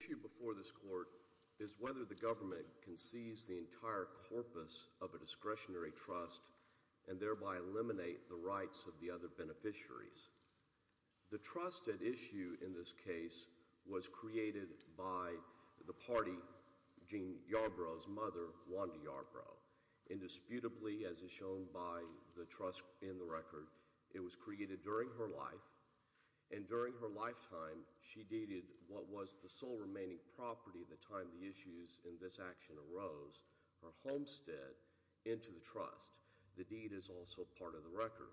The issue before this court is whether the government can seize the entire corpus of a discretionary trust and thereby eliminate the rights of the other beneficiaries. The trust at issue in this case was created by the party, Jean Yarbrough's mother, Wanda Yarbrough. Indisputably, as is shown by the trust in the record, it was created during her life. And during her lifetime, she deeded what was the sole remaining property at the time the issues in this action arose, her homestead, into the trust. The deed is also part of the record.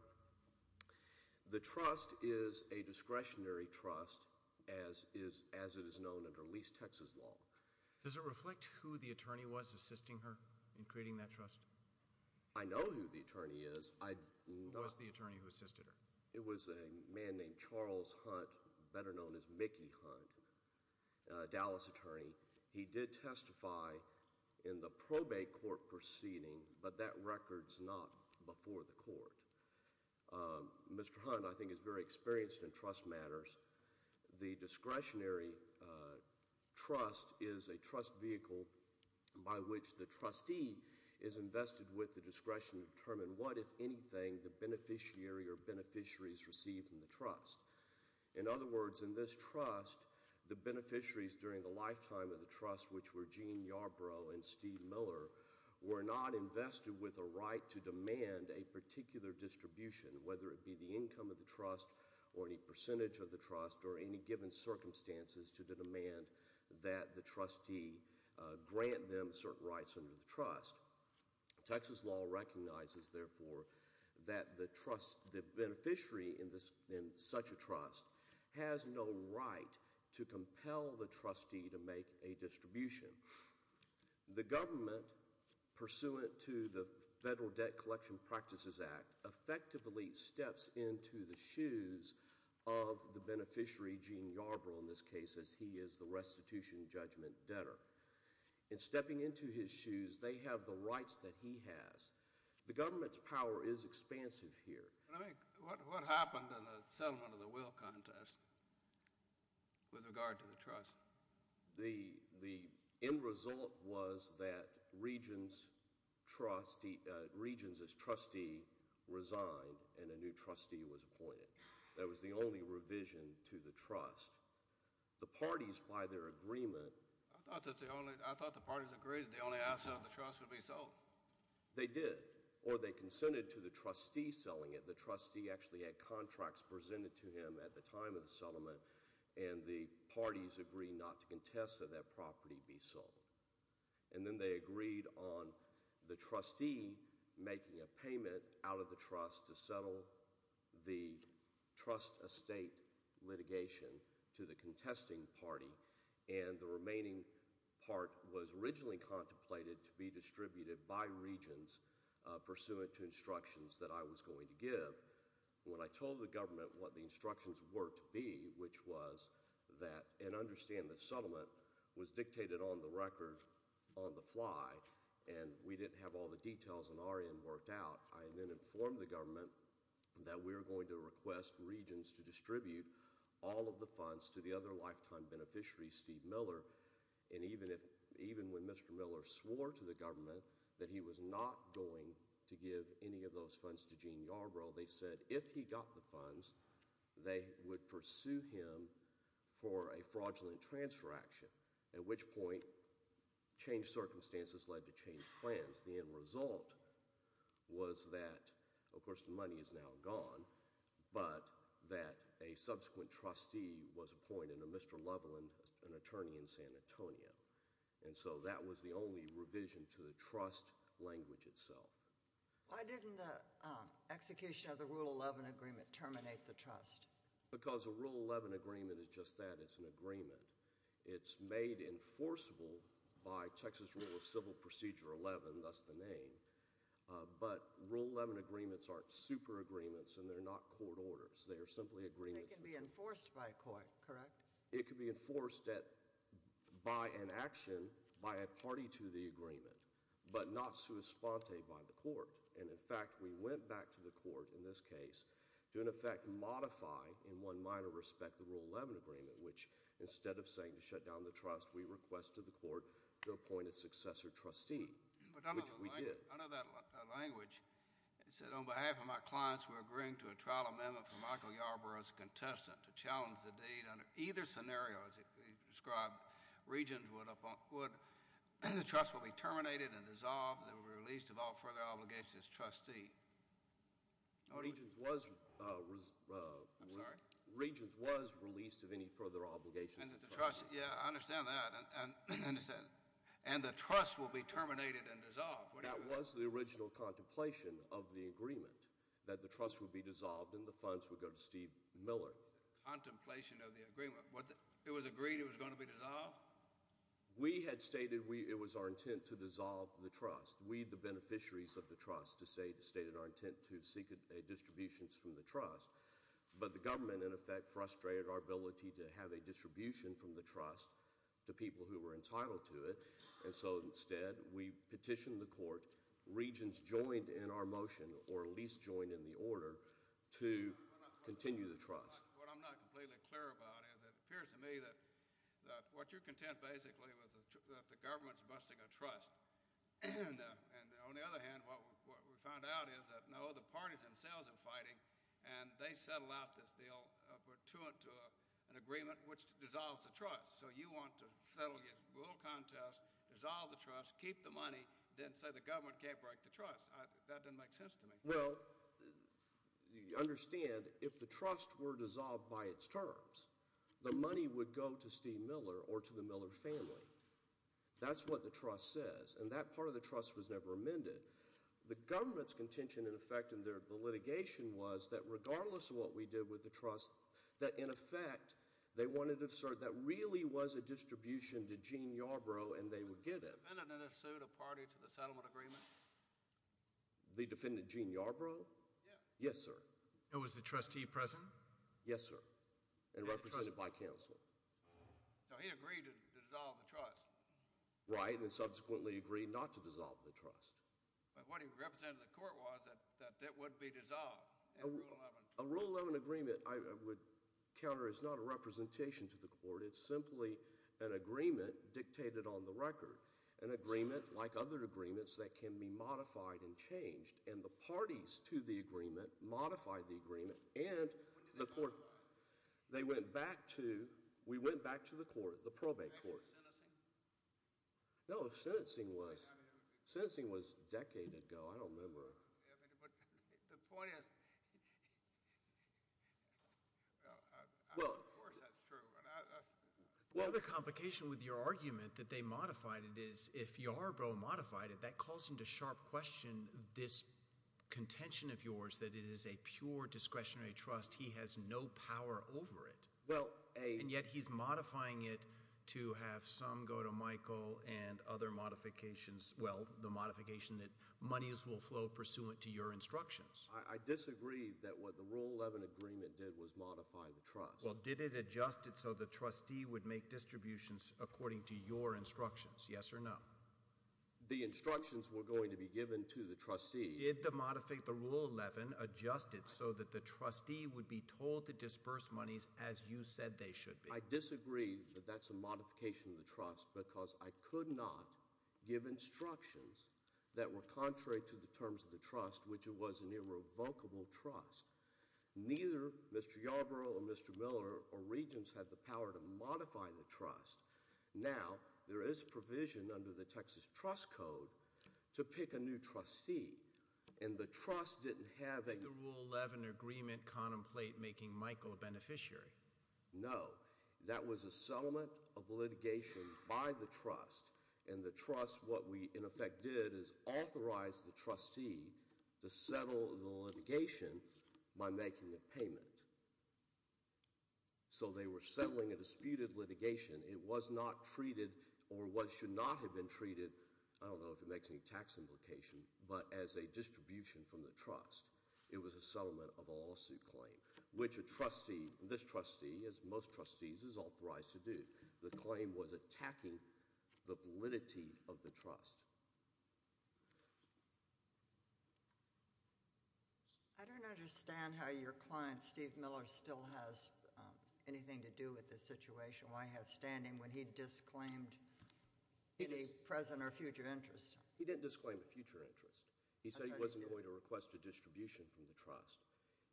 The trust is a discretionary trust, as it is known under least Texas law. Does it reflect who the attorney was assisting her in creating that trust? I know who the attorney is. I know- Who was the attorney who assisted her? It was a man named Charles Hunt, better known as Mickey Hunt, Dallas attorney. He did testify in the probate court proceeding, but that record's not before the court. Mr. Hunt, I think, is very experienced in trust matters. The discretionary trust is a trust vehicle by which the trustee is invested with the discretion to determine what, if anything, the beneficiary or beneficiaries receive from the trust. In other words, in this trust, the beneficiaries during the lifetime of the trust, which were Jean Yarbrough and Steve Miller, were not invested with a right to demand a particular distribution. Whether it be the income of the trust, or any percentage of the trust, or any given circumstances to demand that the trustee grant them certain rights under the trust. Texas law recognizes, therefore, that the beneficiary in such a trust has no right to compel the trustee to make a distribution. The government, pursuant to the Federal Debt Collection Practices Act, effectively steps into the shoes of the beneficiary, Jean Yarbrough in this case, as he is the restitution judgment debtor. In stepping into his shoes, they have the rights that he has. The government's power is expansive here. I mean, what happened in the settlement of the will contest with regard to the trust? The end result was that Regents' trustee, Regents' trustee resigned, and a new trustee was appointed. That was the only revision to the trust. The parties, by their agreement- I thought the parties agreed that the only asset of the trust would be sold. They did, or they consented to the trustee selling it. The trustee actually had contracts presented to him at the time of the settlement, and the parties agreed not to contest that that property be sold. And then they agreed on the trustee making a payment out of the trust to settle the trust estate litigation to the contesting party. And the remaining part was originally contemplated to be distributed by Regents, pursuant to instructions that I was going to give. When I told the government what the instructions were to be, which was that, and understand the settlement, was dictated on the record on the fly, and we didn't have all the details on our end worked out, I then informed the government that we were going to request Regents to distribute all of the funds to the other lifetime beneficiary, Steve Miller, and even when Mr. Miller swore to the government that he was not going to give any of those funds to Gene Yarbrough, they said if he got the funds, they would pursue him for a fraudulent transfer action. At which point, changed circumstances led to changed plans. The end result was that, of course, the money is now gone, but that a subsequent trustee was appointed, a Mr. Loveland, an attorney in San Antonio. And so that was the only revision to the trust language itself. Why didn't the execution of the Rule 11 agreement terminate the trust? Because a Rule 11 agreement is just that, it's an agreement. It's made enforceable by Texas Rule of Civil Procedure 11, thus the name. But Rule 11 agreements aren't super agreements, and they're not court orders, they are simply agreements. They can be enforced by a court, correct? It can be enforced by an action, by a party to the agreement, but not sui sponte by the court. And in fact, we went back to the court in this case to in effect modify, in one minor respect, the Rule 11 agreement, which instead of saying to shut down the trust, we requested the court to appoint a successor trustee, which we did. I know that language, it said on behalf of my clients, we're agreeing to a trial amendment for either scenario as you described, the trust will be terminated and dissolved and released of all further obligations as trustee. I'm sorry? Regents was released of any further obligations as trustee. Yeah, I understand that, and the trust will be terminated and dissolved. That was the original contemplation of the agreement, that the trust would be dissolved and the funds would go to Steve Miller. Contemplation of the agreement, it was agreed it was going to be dissolved? We had stated it was our intent to dissolve the trust. We, the beneficiaries of the trust, stated our intent to seek distributions from the trust. But the government, in effect, frustrated our ability to have a distribution from the trust to people who were entitled to it. And so instead, we petitioned the court, regents joined in our motion, or at least joined in the order, to continue the trust. What I'm not completely clear about is it appears to me that what you're content basically was that the government's busting a trust. And on the other hand, what we found out is that no, the parties themselves are fighting, and they settled out this deal to an agreement which dissolves the trust. So you want to settle your little contest, dissolve the trust, keep the money, then say the government can't break the trust. That doesn't make sense to me. Well, you understand, if the trust were dissolved by its terms, the money would go to Steve Miller or to the Miller family. That's what the trust says, and that part of the trust was never amended. The government's contention, in effect, in the litigation was that regardless of what we did with the trust, that in effect, they wanted to assert that really was a distribution to Gene Yarbrough and they would get it. Was the defendant in this suit a party to the settlement agreement? The defendant, Gene Yarbrough? Yes. Yes, sir. And was the trustee present? Yes, sir, and represented by counsel. So he agreed to dissolve the trust. Right, and subsequently agreed not to dissolve the trust. But what he represented to the court was that it would be dissolved in Rule 11. An agreement, I would counter, is not a representation to the court, it's simply an agreement dictated on the record. An agreement, like other agreements, that can be modified and changed. And the parties to the agreement modified the agreement and the court. They went back to, we went back to the court, the probate court. No, the sentencing was, the sentencing was a decade ago, I don't remember. The point is, well, of course that's true, but that's. Well, the complication with your argument that they modified it is, if Yarbrough modified it, that calls into sharp question this contention of yours that it is a pure discretionary trust. He has no power over it. And yet he's modifying it to have some go to Michael and the other modifications, well, the modification that monies will flow pursuant to your instructions. I disagree that what the Rule 11 agreement did was modify the trust. Well, did it adjust it so the trustee would make distributions according to your instructions, yes or no? The instructions were going to be given to the trustee. Did the modify the Rule 11 adjust it so that the trustee would be told to disperse monies as you said they should be? I disagree that that's a modification of the trust, because I could not give instructions that were contrary to the terms of the trust, which it was an irrevocable trust. Neither Mr. Yarbrough or Mr. Miller or Regents had the power to modify the trust. Now, there is provision under the Texas Trust Code to pick a new trustee. And the trust didn't have a- The Rule 11 agreement contemplate making Michael a beneficiary. No, that was a settlement of litigation by the trust. And the trust, what we, in effect, did is authorize the trustee to settle the litigation by making a payment. So they were settling a disputed litigation. It was not treated, or what should not have been treated, I don't know if it makes any tax implication, but as a distribution from the trust, it was a settlement of a lawsuit claim. Which a trustee, this trustee, as most trustees, is authorized to do. The claim was attacking the validity of the trust. I don't understand how your client, Steve Miller, still has anything to do with this situation. Why he has standing when he disclaimed any present or future interest? He didn't disclaim a future interest. He said he wasn't going to request a distribution from the trust.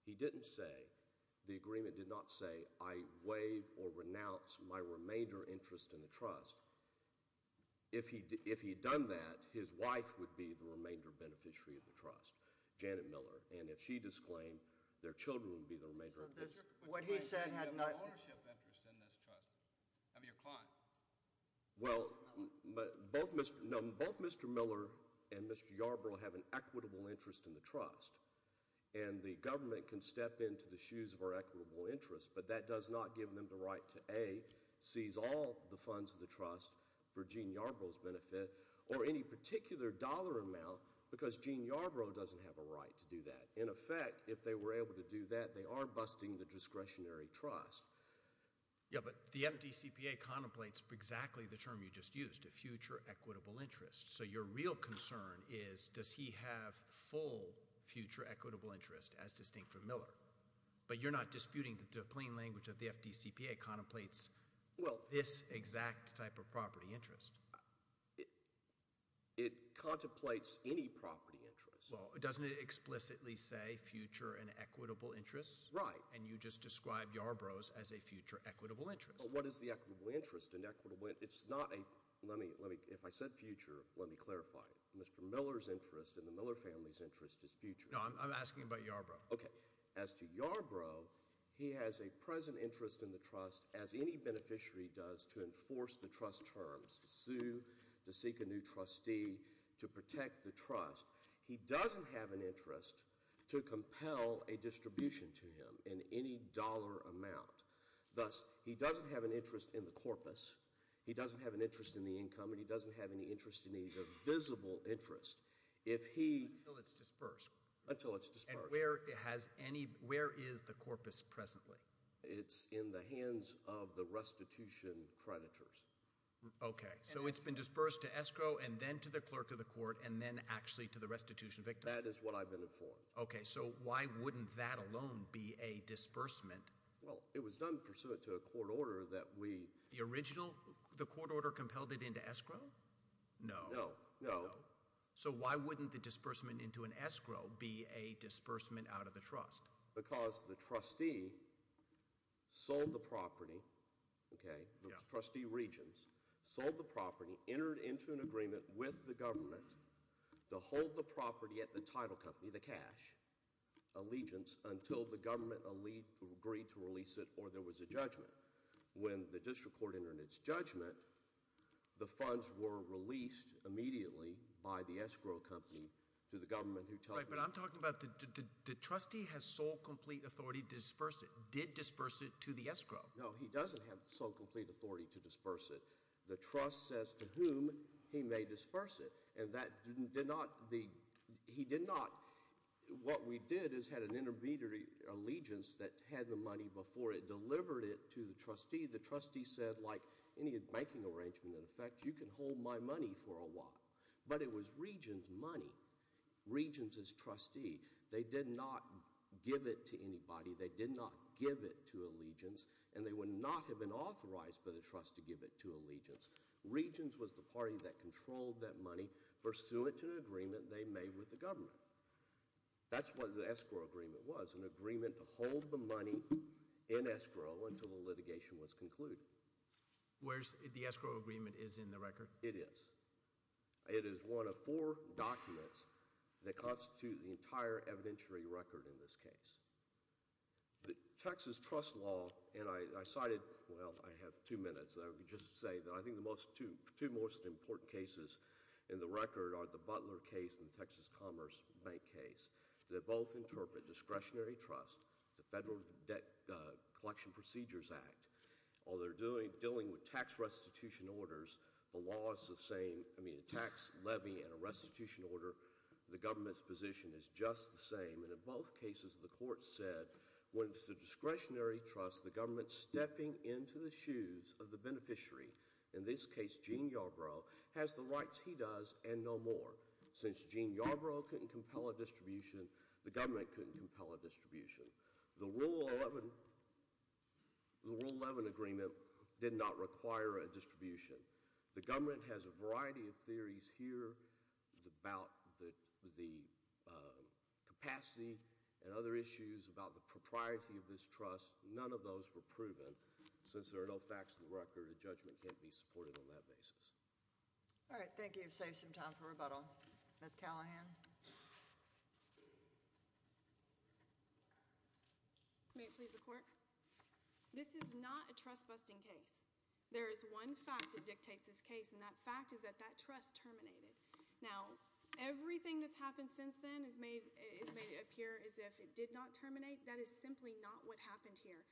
He didn't say, the agreement did not say, I waive or renounce my remainder interest in the trust. If he'd done that, his wife would be the remainder beneficiary of the trust, Janet Miller. And if she disclaimed, their children would be the remainder of the trust. What he said had not- You have an ownership interest in this trust, of your client. Well, both Mr. Miller and Mr. Yarbrough have an equitable interest in the trust. And the government can step into the shoes of our equitable interest. But that does not give them the right to A, seize all the funds of the trust for Gene Yarbrough's benefit, or any particular dollar amount, because Gene Yarbrough doesn't have a right to do that. In effect, if they were able to do that, they are busting the discretionary trust. Yeah, but the MDCPA contemplates exactly the term you just used, a future equitable interest. So your real concern is, does he have full future equitable interest as distinct from Miller? But you're not disputing the plain language of the FDCPA contemplates this exact type of property interest. It contemplates any property interest. Well, doesn't it explicitly say future and equitable interest? Right. And you just described Yarbrough's as a future equitable interest. But what is the equitable interest? It's not a, if I said future, let me clarify. Mr. Miller's interest and the Miller family's interest is future. No, I'm asking about Yarbrough. Okay. As to Yarbrough, he has a present interest in the trust, as any beneficiary does, to enforce the trust terms, to sue, to seek a new trustee, to protect the trust. He doesn't have an interest to compel a distribution to him in any dollar amount. Thus, he doesn't have an interest in the corpus. He doesn't have an interest in the income, and he doesn't have any interest in the visible interest. If he- Until it's dispersed. Until it's dispersed. And where is the corpus presently? It's in the hands of the restitution creditors. Okay, so it's been dispersed to escrow, and then to the clerk of the court, and then actually to the restitution victim? That is what I've been informed. Okay, so why wouldn't that alone be a disbursement? Well, it was done pursuant to a court order that we- The original, the court order compelled it into escrow? No. No. So why wouldn't the disbursement into an escrow be a disbursement out of the trust? Because the trustee sold the property, okay, those trustee regions sold the property, entered into an agreement with the government to hold the property at the title company, the cash, allegiance, until the government agreed to release it or there was a judgment. When the district court entered its judgment, the funds were released immediately by the escrow company to the government who told them- Right, but I'm talking about the trustee has sole complete authority to disperse it, did disperse it to the escrow. No, he doesn't have sole complete authority to disperse it. The trust says to whom he may disperse it. And that did not, he did not, what we did is had an intermediary allegiance that had the money before it delivered it to the trustee. The trustee said, like any banking arrangement in effect, you can hold my money for a while. But it was regions' money, regions' trustee. They did not give it to anybody. They did not give it to allegiance and they would not have been authorized by the trust to give it to allegiance. Regions was the party that controlled that money pursuant to an agreement they made with the government. That's what the escrow agreement was, an agreement to hold the money in escrow until the litigation was concluded. Where's the escrow agreement is in the record? It is. It is one of four documents that constitute the entire evidentiary record in this case. The Texas trust law, and I cited, well, I have two minutes. I would just say that I think the two most important cases in the record are the Butler case and the Texas Commerce Bank case. They both interpret discretionary trust, the Federal Debt Collection Procedures Act. While they're dealing with tax restitution orders, the law is the same. I mean, a tax levy and a restitution order, the government's position is just the same. And in both cases, the court said, when it's a discretionary trust, the government's stepping into the shoes of the beneficiary. In this case, Gene Yarbrough has the rights he does and no more. Since Gene Yarbrough couldn't compel a distribution, the government couldn't compel a distribution. The Rule 11 agreement did not require a distribution. The government has a variety of theories here about the capacity and other issues about the propriety of this trust, none of those were proven. Since there are no facts in the record, a judgment can't be supported on that basis. All right, thank you. You've saved some time for rebuttal. Ms. Callahan. May it please the court? This is not a trust busting case. There is one fact that dictates this case, and that fact is that that trust terminated. Now, everything that's happened since then has made it appear as if it did not terminate. That is simply not what happened here.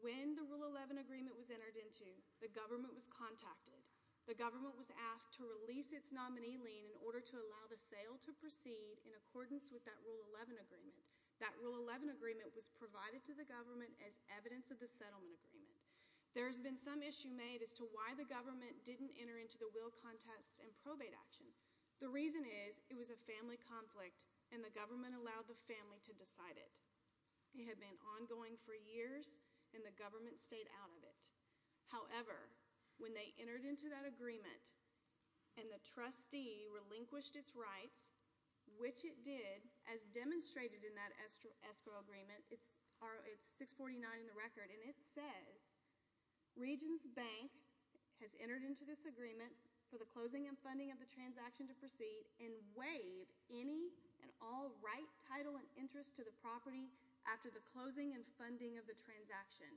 When the Rule 11 agreement was entered into, the government was contacted. The government was asked to release its nominee lien in order to allow the sale to proceed in accordance with that Rule 11 agreement. That Rule 11 agreement was provided to the government as evidence of the settlement agreement. There's been some issue made as to why the government didn't enter into the will contest and probate action. The reason is, it was a family conflict, and the government allowed the family to decide it. It had been ongoing for years, and the government stayed out of it. However, when they entered into that agreement, and the trustee relinquished its rights, which it did, as demonstrated in that escrow agreement, it's 649 in the record. And it says, Regents Bank has entered into this agreement for the closing and funding of the transaction to proceed and waive any and all right, title, and interest to the property after the closing and funding of the transaction.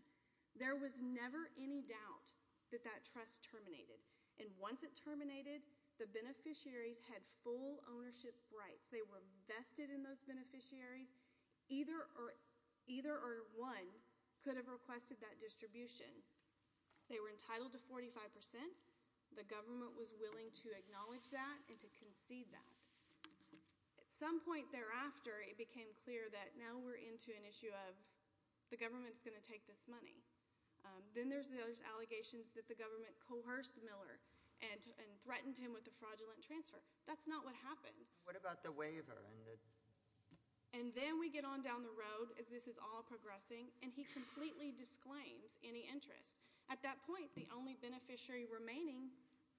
There was never any doubt that that trust terminated. And once it terminated, the beneficiaries had full ownership rights. They were vested in those beneficiaries. Either or one could have requested that distribution. They were entitled to 45%. The government was willing to acknowledge that and to concede that. At some point thereafter, it became clear that now we're into an issue of the government's going to take this money. Then there's those allegations that the government coerced Miller and threatened him with a fraudulent transfer. That's not what happened. What about the waiver and the- And then we get on down the road, as this is all progressing, and he completely disclaims any interest. At that point, the only beneficiary remaining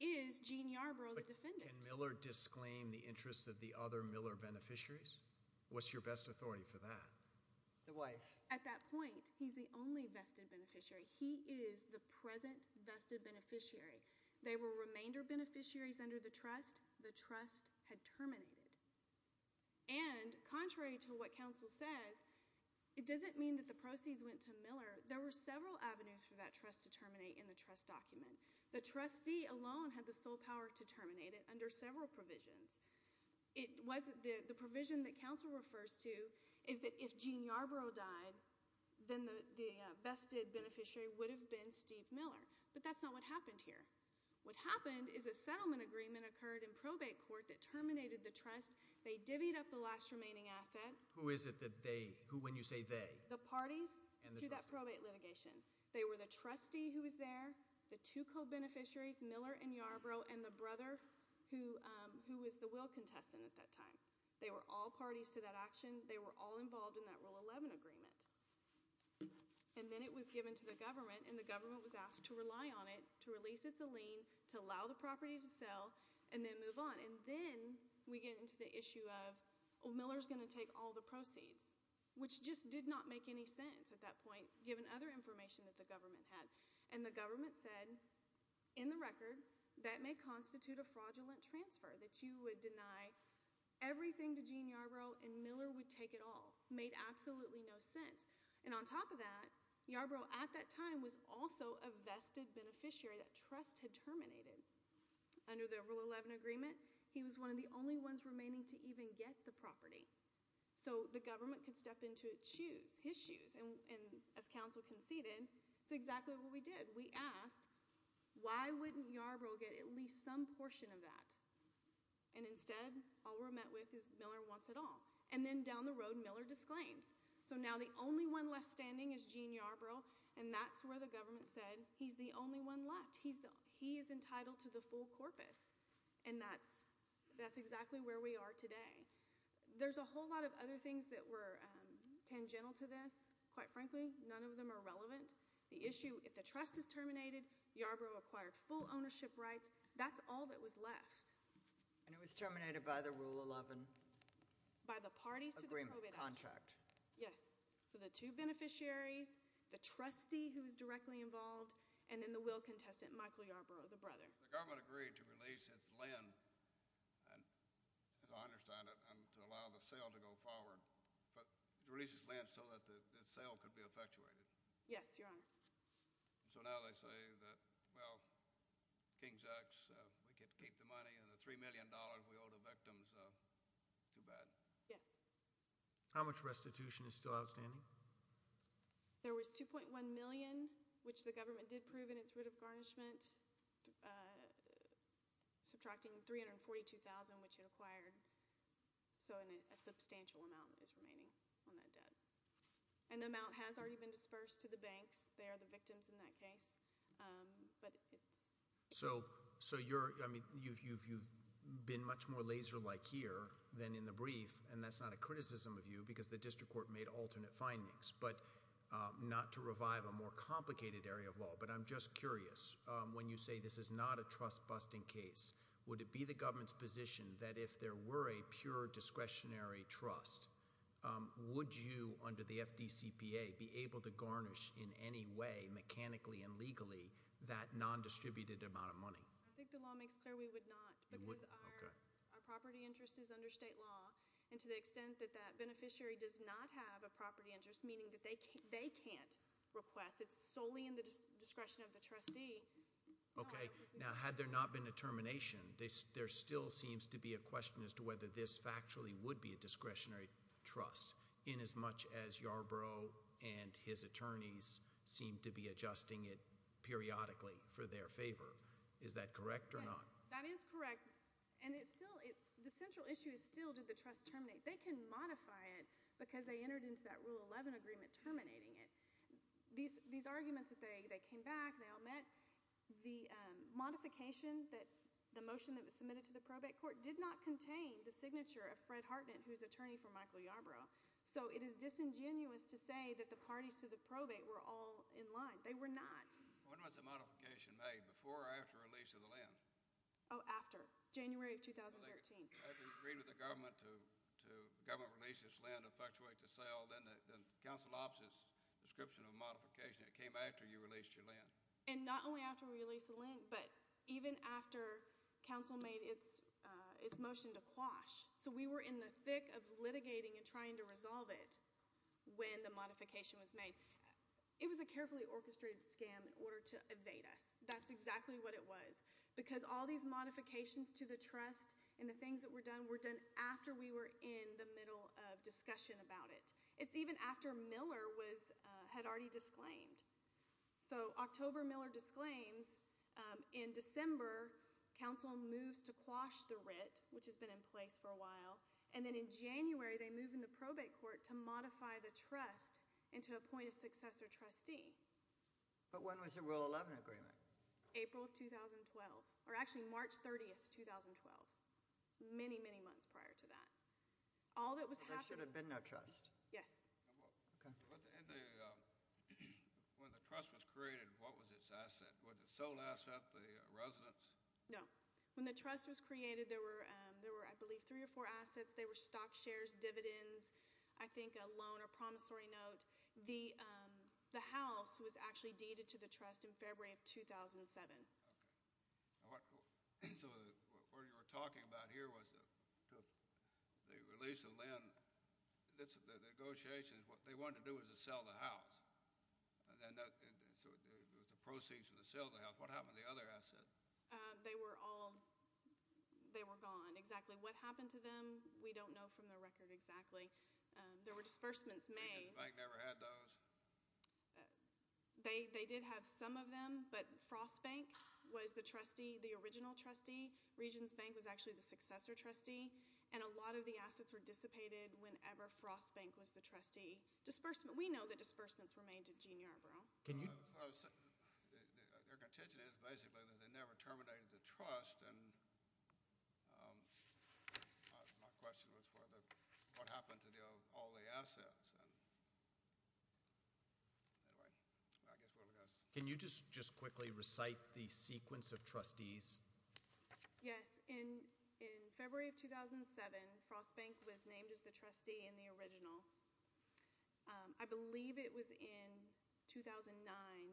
is Gene Yarbrough, the defendant. Can Miller disclaim the interests of the other Miller beneficiaries? What's your best authority for that? The wife. At that point, he's the only vested beneficiary. He is the present vested beneficiary. They were remainder beneficiaries under the trust. The trust had terminated. And contrary to what counsel says, it doesn't mean that the proceeds went to Miller. There were several avenues for that trust to terminate in the trust document. The trustee alone had the sole power to terminate it under several provisions. The provision that counsel refers to is that if Gene Yarbrough died, then the vested beneficiary would have been Steve Miller. But that's not what happened here. What happened is a settlement agreement occurred in probate court that terminated the trust. They divvied up the last remaining asset. Who is it that they, who when you say they? The parties to that probate litigation. They were the trustee who was there, the two co-beneficiaries, Miller and Yarbrough, and the brother who was the will contestant at that time. They were all parties to that action. They were all involved in that Rule 11 agreement. And then it was given to the government, and the government was asked to rely on it, to release it to lien, to allow the property to sell, and then move on. And then we get into the issue of, well, Miller's going to take all the proceeds, which just did not make any sense at that point, given other information that the government had. And the government said, in the record, that may constitute a fraudulent transfer, that you would deny everything to Gene Yarbrough, and Miller would take it all. Made absolutely no sense. And on top of that, Yarbrough, at that time, was also a vested beneficiary that trust had terminated. Under the Rule 11 agreement, he was one of the only ones remaining to even get the property. So the government could step into its shoes, his shoes, and as council conceded, it's exactly what we did. We asked, why wouldn't Yarbrough get at least some portion of that? And instead, all we're met with is Miller wants it all. And then down the road, Miller disclaims. So now the only one left standing is Gene Yarbrough, and that's where the government said, he's the only one left. He is entitled to the full corpus, and that's exactly where we are today. There's a whole lot of other things that were tangential to this. Quite frankly, none of them are relevant. The issue, if the trust is terminated, Yarbrough acquired full ownership rights. That's all that was left. And it was terminated by the Rule 11? By the parties to the probate action. Agreement, contract. Yes. So the two beneficiaries, the trustee who was directly involved, and then the will contestant, Michael Yarbrough, the brother. The government agreed to release its lend, and as I understand it, to allow the sale to go forward. But it releases lend so that the sale could be effectuated. Yes, Your Honor. So now they say that, well, King's X, we could keep the money, and the $3 million we owe the victims, too bad. Yes. How much restitution is still outstanding? There was 2.1 million, which the government did prove in its writ of garnishment, subtracting 342,000, which it acquired, so a substantial amount is remaining on that debt. And the amount has already been dispersed to the banks. They are the victims in that case, but it's- So you've been much more laser-like here than in the brief, and that's not a criticism of you, because the district court made alternate findings, but not to revive a more complicated area of law. But I'm just curious, when you say this is not a trust-busting case, would it be the government's position that if there were a pure discretionary trust, would you, under the FDCPA, be able to garnish in any way, mechanically and legally, that non-distributed amount of money? I think the law makes clear we would not, because our property interest is under state law. And to the extent that that beneficiary does not have a property interest, meaning that they can't request. It's solely in the discretion of the trustee. Okay, now had there not been a termination, there still seems to be a question as to whether this factually would be a discretionary trust. In as much as Yarborough and his attorneys seem to be adjusting it periodically for their favor. Is that correct or not? That is correct. And the central issue is still, did the trust terminate? They can modify it, because they entered into that Rule 11 agreement terminating it. These arguments, they came back, they all met. The modification, the motion that was submitted to the probate court, did not contain the signature of Fred Hartnett, who is attorney for Michael Yarborough. So it is disingenuous to say that the parties to the probate were all in line. They were not. When was the modification made, before or after release of the land? After, January of 2013. I've agreed with the government to government release this land and fluctuate the sale. Then the council opts this description of modification. It came after you released your land. And not only after we released the land, but even after council made its motion to quash. So we were in the thick of litigating and trying to resolve it when the modification was made. It was a carefully orchestrated scam in order to evade us. That's exactly what it was. Because all these modifications to the trust and the things that were done, were done after we were in the middle of discussion about it. It's even after Miller had already disclaimed. So October, Miller disclaims. In December, council moves to quash the writ, which has been in place for a while. And then in January, they move in the probate court to modify the trust and to appoint a successor trustee. But when was the Rule 11 agreement? April of 2012, or actually March 30th, 2012. Many, many months prior to that. All that was happening- There should have been no trust. Yes. When the trust was created, what was its asset? Was it a sold asset, the residence? When the trust was created, there were, I believe, three or four assets. They were stock shares, dividends, I think a loan, a promissory note. The house was actually deeded to the trust in February of 2007. Okay. So what you were talking about here was the release of lend. The negotiations, what they wanted to do was to sell the house. And then that, so it was the proceeds for the sale of the house. What happened to the other asset? They were all, they were gone. Exactly what happened to them, we don't know from the record exactly. There were disbursements made. The bank never had those? They did have some of them, but Frost Bank was the trustee, the original trustee. Regions Bank was actually the successor trustee. And a lot of the assets were dissipated whenever Frost Bank was the trustee. Disbursement, we know that disbursements were made to Gene Yarbrough. Can you- Their contention is basically that they never terminated the trust. Anyway, I guess we'll discuss. Can you just quickly recite the sequence of trustees? Yes, in February of 2007, Frost Bank was named as the trustee in the original. I believe it was in 2009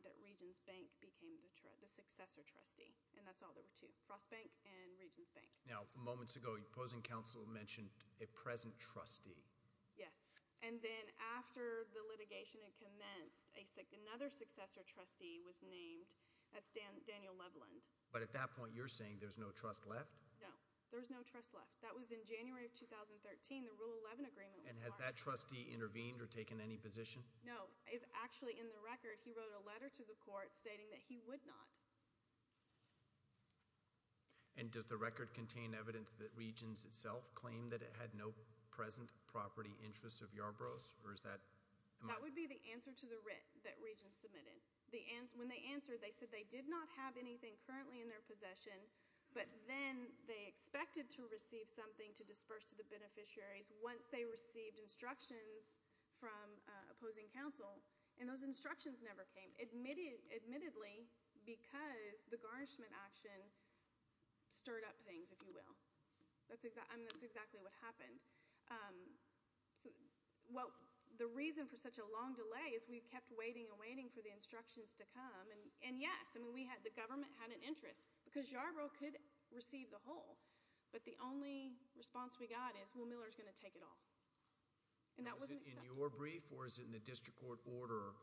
that Regions Bank became the successor trustee. And that's all there were two, Frost Bank and Regions Bank. Now, moments ago, opposing counsel mentioned a present trustee. Yes, and then after the litigation had commenced, another successor trustee was named as Daniel Leveland. But at that point, you're saying there's no trust left? No, there's no trust left. That was in January of 2013, the Rule 11 agreement was- And has that trustee intervened or taken any position? No, it's actually in the record. He wrote a letter to the court stating that he would not. And does the record contain evidence that Regions itself claimed that it had no present property interests of Yarbrough's, or is that- That would be the answer to the writ that Regions submitted. When they answered, they said they did not have anything currently in their possession, but then they expected to receive something to disperse to the beneficiaries once they received instructions from opposing counsel. And those instructions never came, admittedly, because the garnishment action stirred up things, if you will. That's exactly what happened. Well, the reason for such a long delay is we kept waiting and waiting for the instructions to come, and yes, the government had an interest. Because Yarbrough could receive the whole, but the only response we got is, well, Miller's going to take it all. And that wasn't accepted. In your brief, or is it in the district court order,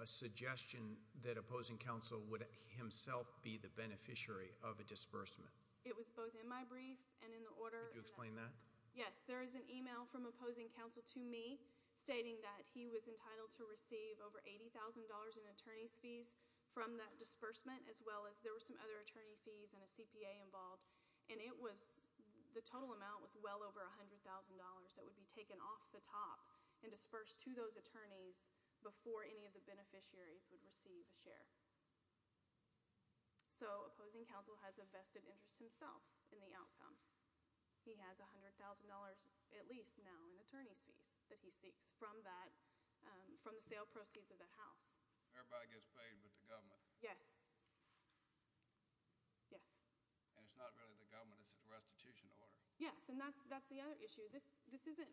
a suggestion that opposing counsel would himself be the beneficiary of a disbursement? It was both in my brief and in the order- Could you explain that? Yes, there is an email from opposing counsel to me, stating that he was entitled to receive over $80,000 in attorney's fees from that disbursement, as well as there were some other attorney fees and a CPA involved. And the total amount was well over $100,000 that would be taken off the top and So opposing counsel has a vested interest himself in the outcome. He has $100,000, at least now, in attorney's fees that he seeks from the sale proceeds of that house. Everybody gets paid but the government. Yes. Yes. And it's not really the government, it's the restitution order. Yes, and that's the other issue. This isn't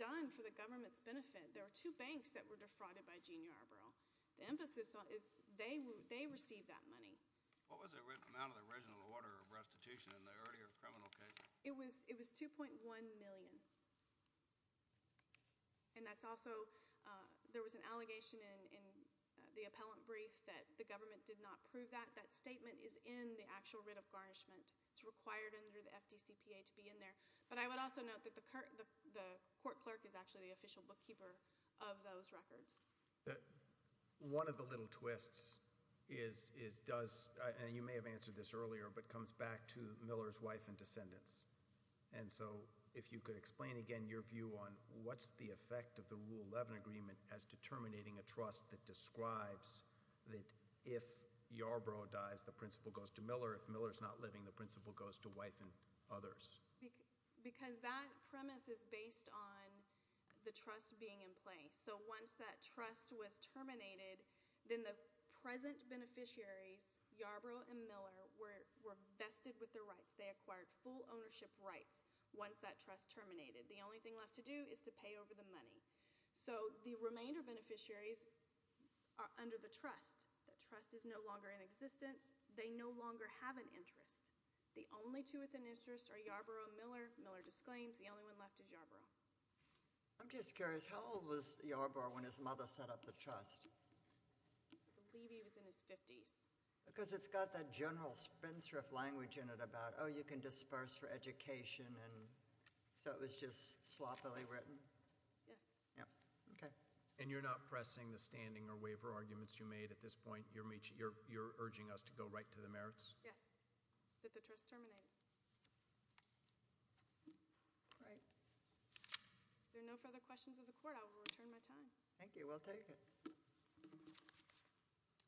done for the government's benefit. There are two banks that were defrauded by Gene Yarbrough. The emphasis is they received that money. What was the amount of the original order of restitution in the earlier criminal case? It was $2.1 million. And that's also, there was an allegation in the appellant brief that the government did not prove that. That statement is in the actual writ of garnishment. It's required under the FDCPA to be in there. But I would also note that the court clerk is actually the official bookkeeper of those records. One of the little twists is, does, and you may have answered this earlier, but comes back to Miller's wife and descendants. And so, if you could explain again your view on what's the effect of the Rule 11 agreement as determining a trust that describes that if Yarbrough dies, the principal goes to Miller. If Miller's not living, the principal goes to wife and others. Because that premise is based on the trust being in place. So once that trust was terminated, then the present beneficiaries, Yarbrough and Miller, were vested with the rights. They acquired full ownership rights once that trust terminated. The only thing left to do is to pay over the money. So the remainder beneficiaries are under the trust. The trust is no longer in existence. They no longer have an interest. The only two with an interest are Yarbrough and Miller. Miller disclaims the only one left is Yarbrough. I'm just curious, how old was Yarbrough when his mother set up the trust? I believe he was in his 50s. Because it's got that general spin thrift language in it about, you can disperse for education. And so it was just sloppily written. Yes. Yeah, okay. And you're not pressing the standing or waiver arguments you made at this point? You're urging us to go right to the merits? Yes. That the trust terminated. Great. If there are no further questions of the court, I will return my time. Thank you. We'll take it.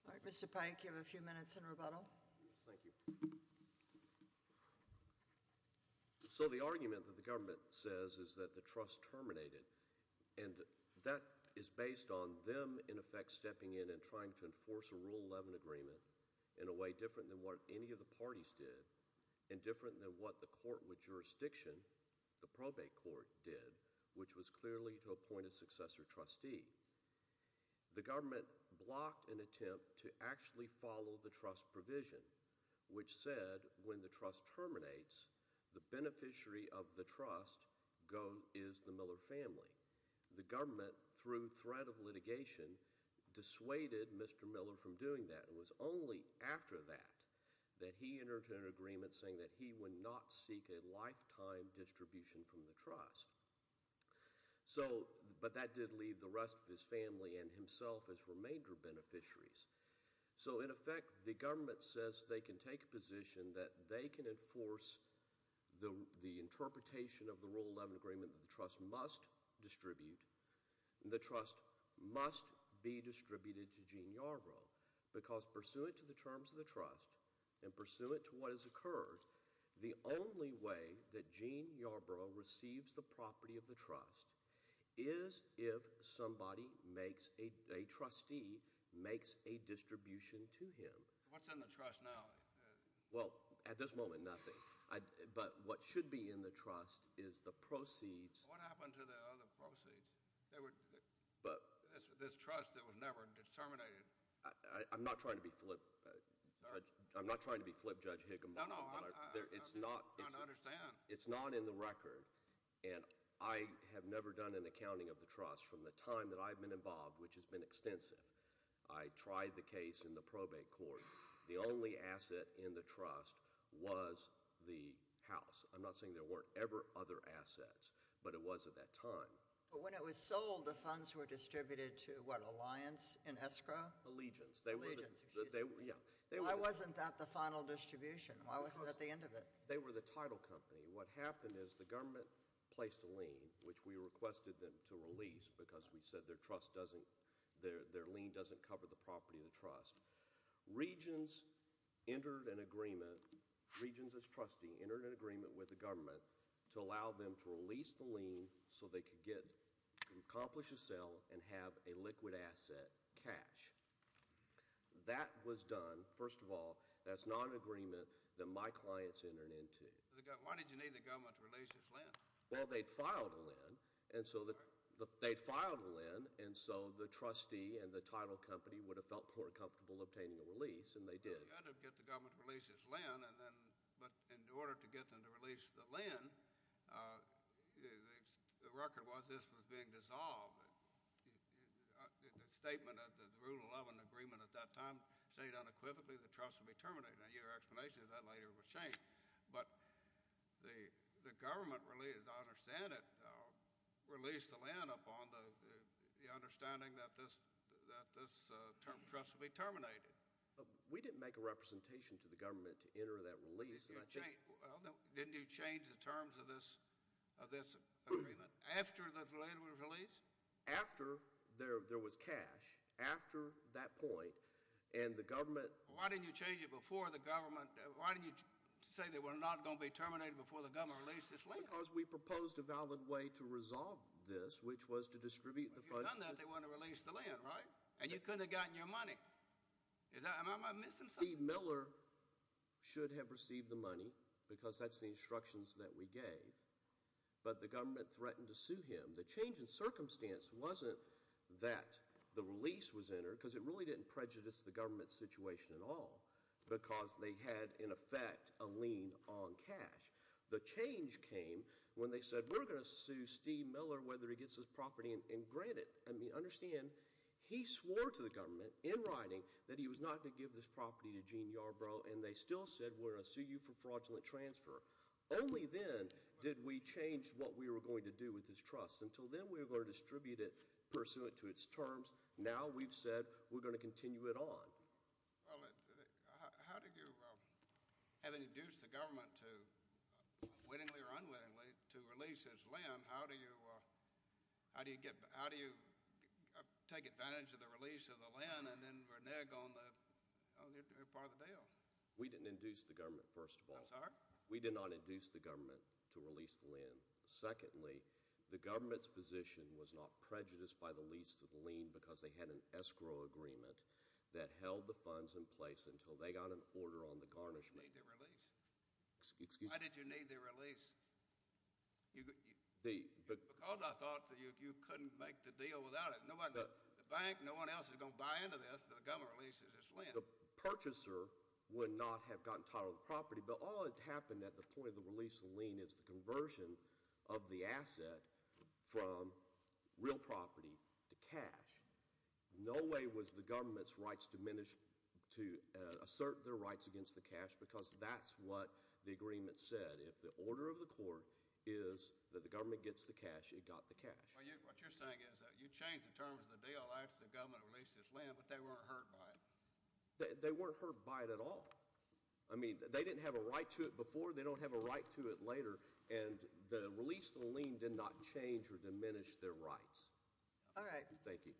All right, Mr. Pike, you have a few minutes in rebuttal. Yes, thank you. So the argument that the government says is that the trust terminated. And that is based on them, in effect, stepping in and trying to enforce a Rule 11 agreement in a way different than what any of the parties did. And different than what the court with jurisdiction, the probate court, did, which was clearly to appoint a successor trustee. The government blocked an attempt to actually follow the trust provision. Which said, when the trust terminates, the beneficiary of the trust is the Miller family. The government, through threat of litigation, dissuaded Mr. Miller from doing that. It was only after that, that he entered into an agreement saying that he would not seek a lifetime distribution from the trust. So, but that did leave the rest of his family and himself as remainder beneficiaries. So in effect, the government says they can take a position that they can enforce the interpretation of the Rule 11 agreement that the trust must distribute. The trust must be distributed to Gene Yarbrough. Because pursuant to the terms of the trust, and pursuant to what has occurred, the only way that Gene Yarbrough receives the property of the trust is if somebody makes a, a trustee makes a distribution to him. What's in the trust now? Well, at this moment, nothing. But what should be in the trust is the proceeds. What happened to the other proceeds? They were. But. This trust that was never disterminated. I'm not trying to be flip, I'm not trying to be flip Judge Higginbottom. No, no, I'm trying to understand. It's not in the record, and I have never done an accounting of the trust from the time that I've been involved, which has been extensive. I tried the case in the probate court. The only asset in the trust was the house. I'm not saying there weren't ever other assets, but it was at that time. But when it was sold, the funds were distributed to what, an alliance, an escrow? Allegiance. Allegiance, excuse me. Yeah. Why wasn't that the final distribution? Why wasn't that the end of it? They were the title company. What happened is the government placed a lien, which we requested them to release, because we said their trust doesn't, their lien doesn't cover the property of the trust. Regions entered an agreement, regions as trustee, entered an agreement with the government to allow them to release the lien so they could get, accomplish a sale, and have a liquid asset, cash. That was done, first of all, that's not an agreement that my clients entered into. Why did you need the government to release this lien? Well, they'd filed a lien, and so the, they'd filed a lien, and so the trustee and the title company would have felt more comfortable obtaining a release, and they did. You had to get the government to release this lien, and then, but in order to get them to release the lien, the, the record was this was being dissolved. The, the statement at the, the Rule 11 agreement at that time said unequivocally the trust would be terminated, and your explanation of that later was changed. But the, the government really did not understand it, released the lien upon the, the understanding that this, that this trust would be terminated. We didn't make a representation to the government to enter that release, and I think. Did you change, well, didn't you change the terms of this, of this agreement after the lien was released? After there, there was cash, after that point, and the government. Why didn't you change it before the government, why didn't you say they were not going to be terminated before the government released this lien? Because we proposed a valid way to resolve this, which was to distribute the funds to. But they want to release the lien, right? And you couldn't have gotten your money, is that, am I missing something? Steve Miller should have received the money, because that's the instructions that we gave, but the government threatened to sue him. The change in circumstance wasn't that the release was entered, because it really didn't prejudice the government's situation at all. Because they had, in effect, a lien on cash. The change came when they said, we're going to sue Steve Miller whether he gets his property and grant it. I mean, understand, he swore to the government, in writing, that he was not going to give this property to Gene Yarbrough. And they still said, we're going to sue you for fraudulent transfer. Only then did we change what we were going to do with this trust. Until then, we were going to distribute it pursuant to its terms. Now, we've said, we're going to continue it on. Well, how did you, having induced the government to, wittingly or unwittingly, to release his lien, how do you take advantage of the release of the lien and then renege on the part of the bill? We didn't induce the government, first of all. I'm sorry? We did not induce the government to release the lien. Secondly, the government's position was not prejudiced by the lease to the lien, because they had an escrow agreement that held the funds in place until they got an order on the garnishment. I didn't need the release. Excuse me? Why did you need the release? Because I thought that you couldn't make the deal without it. No one, the bank, no one else is going to buy into this until the government releases its lien. The purchaser would not have gotten title of the property, but all that happened at the point of the release of the lien is the conversion of the asset from real property to cash. No way was the government's rights diminished to assert their rights against the cash, because that's what the agreement said. If the order of the court is that the government gets the cash, it got the cash. What you're saying is that you changed the terms of the deal after the government released its lien, but they weren't hurt by it. They weren't hurt by it at all. I mean, they didn't have a right to it before. They don't have a right to it later. And the release of the lien did not change or diminish their rights. All right. Thank you.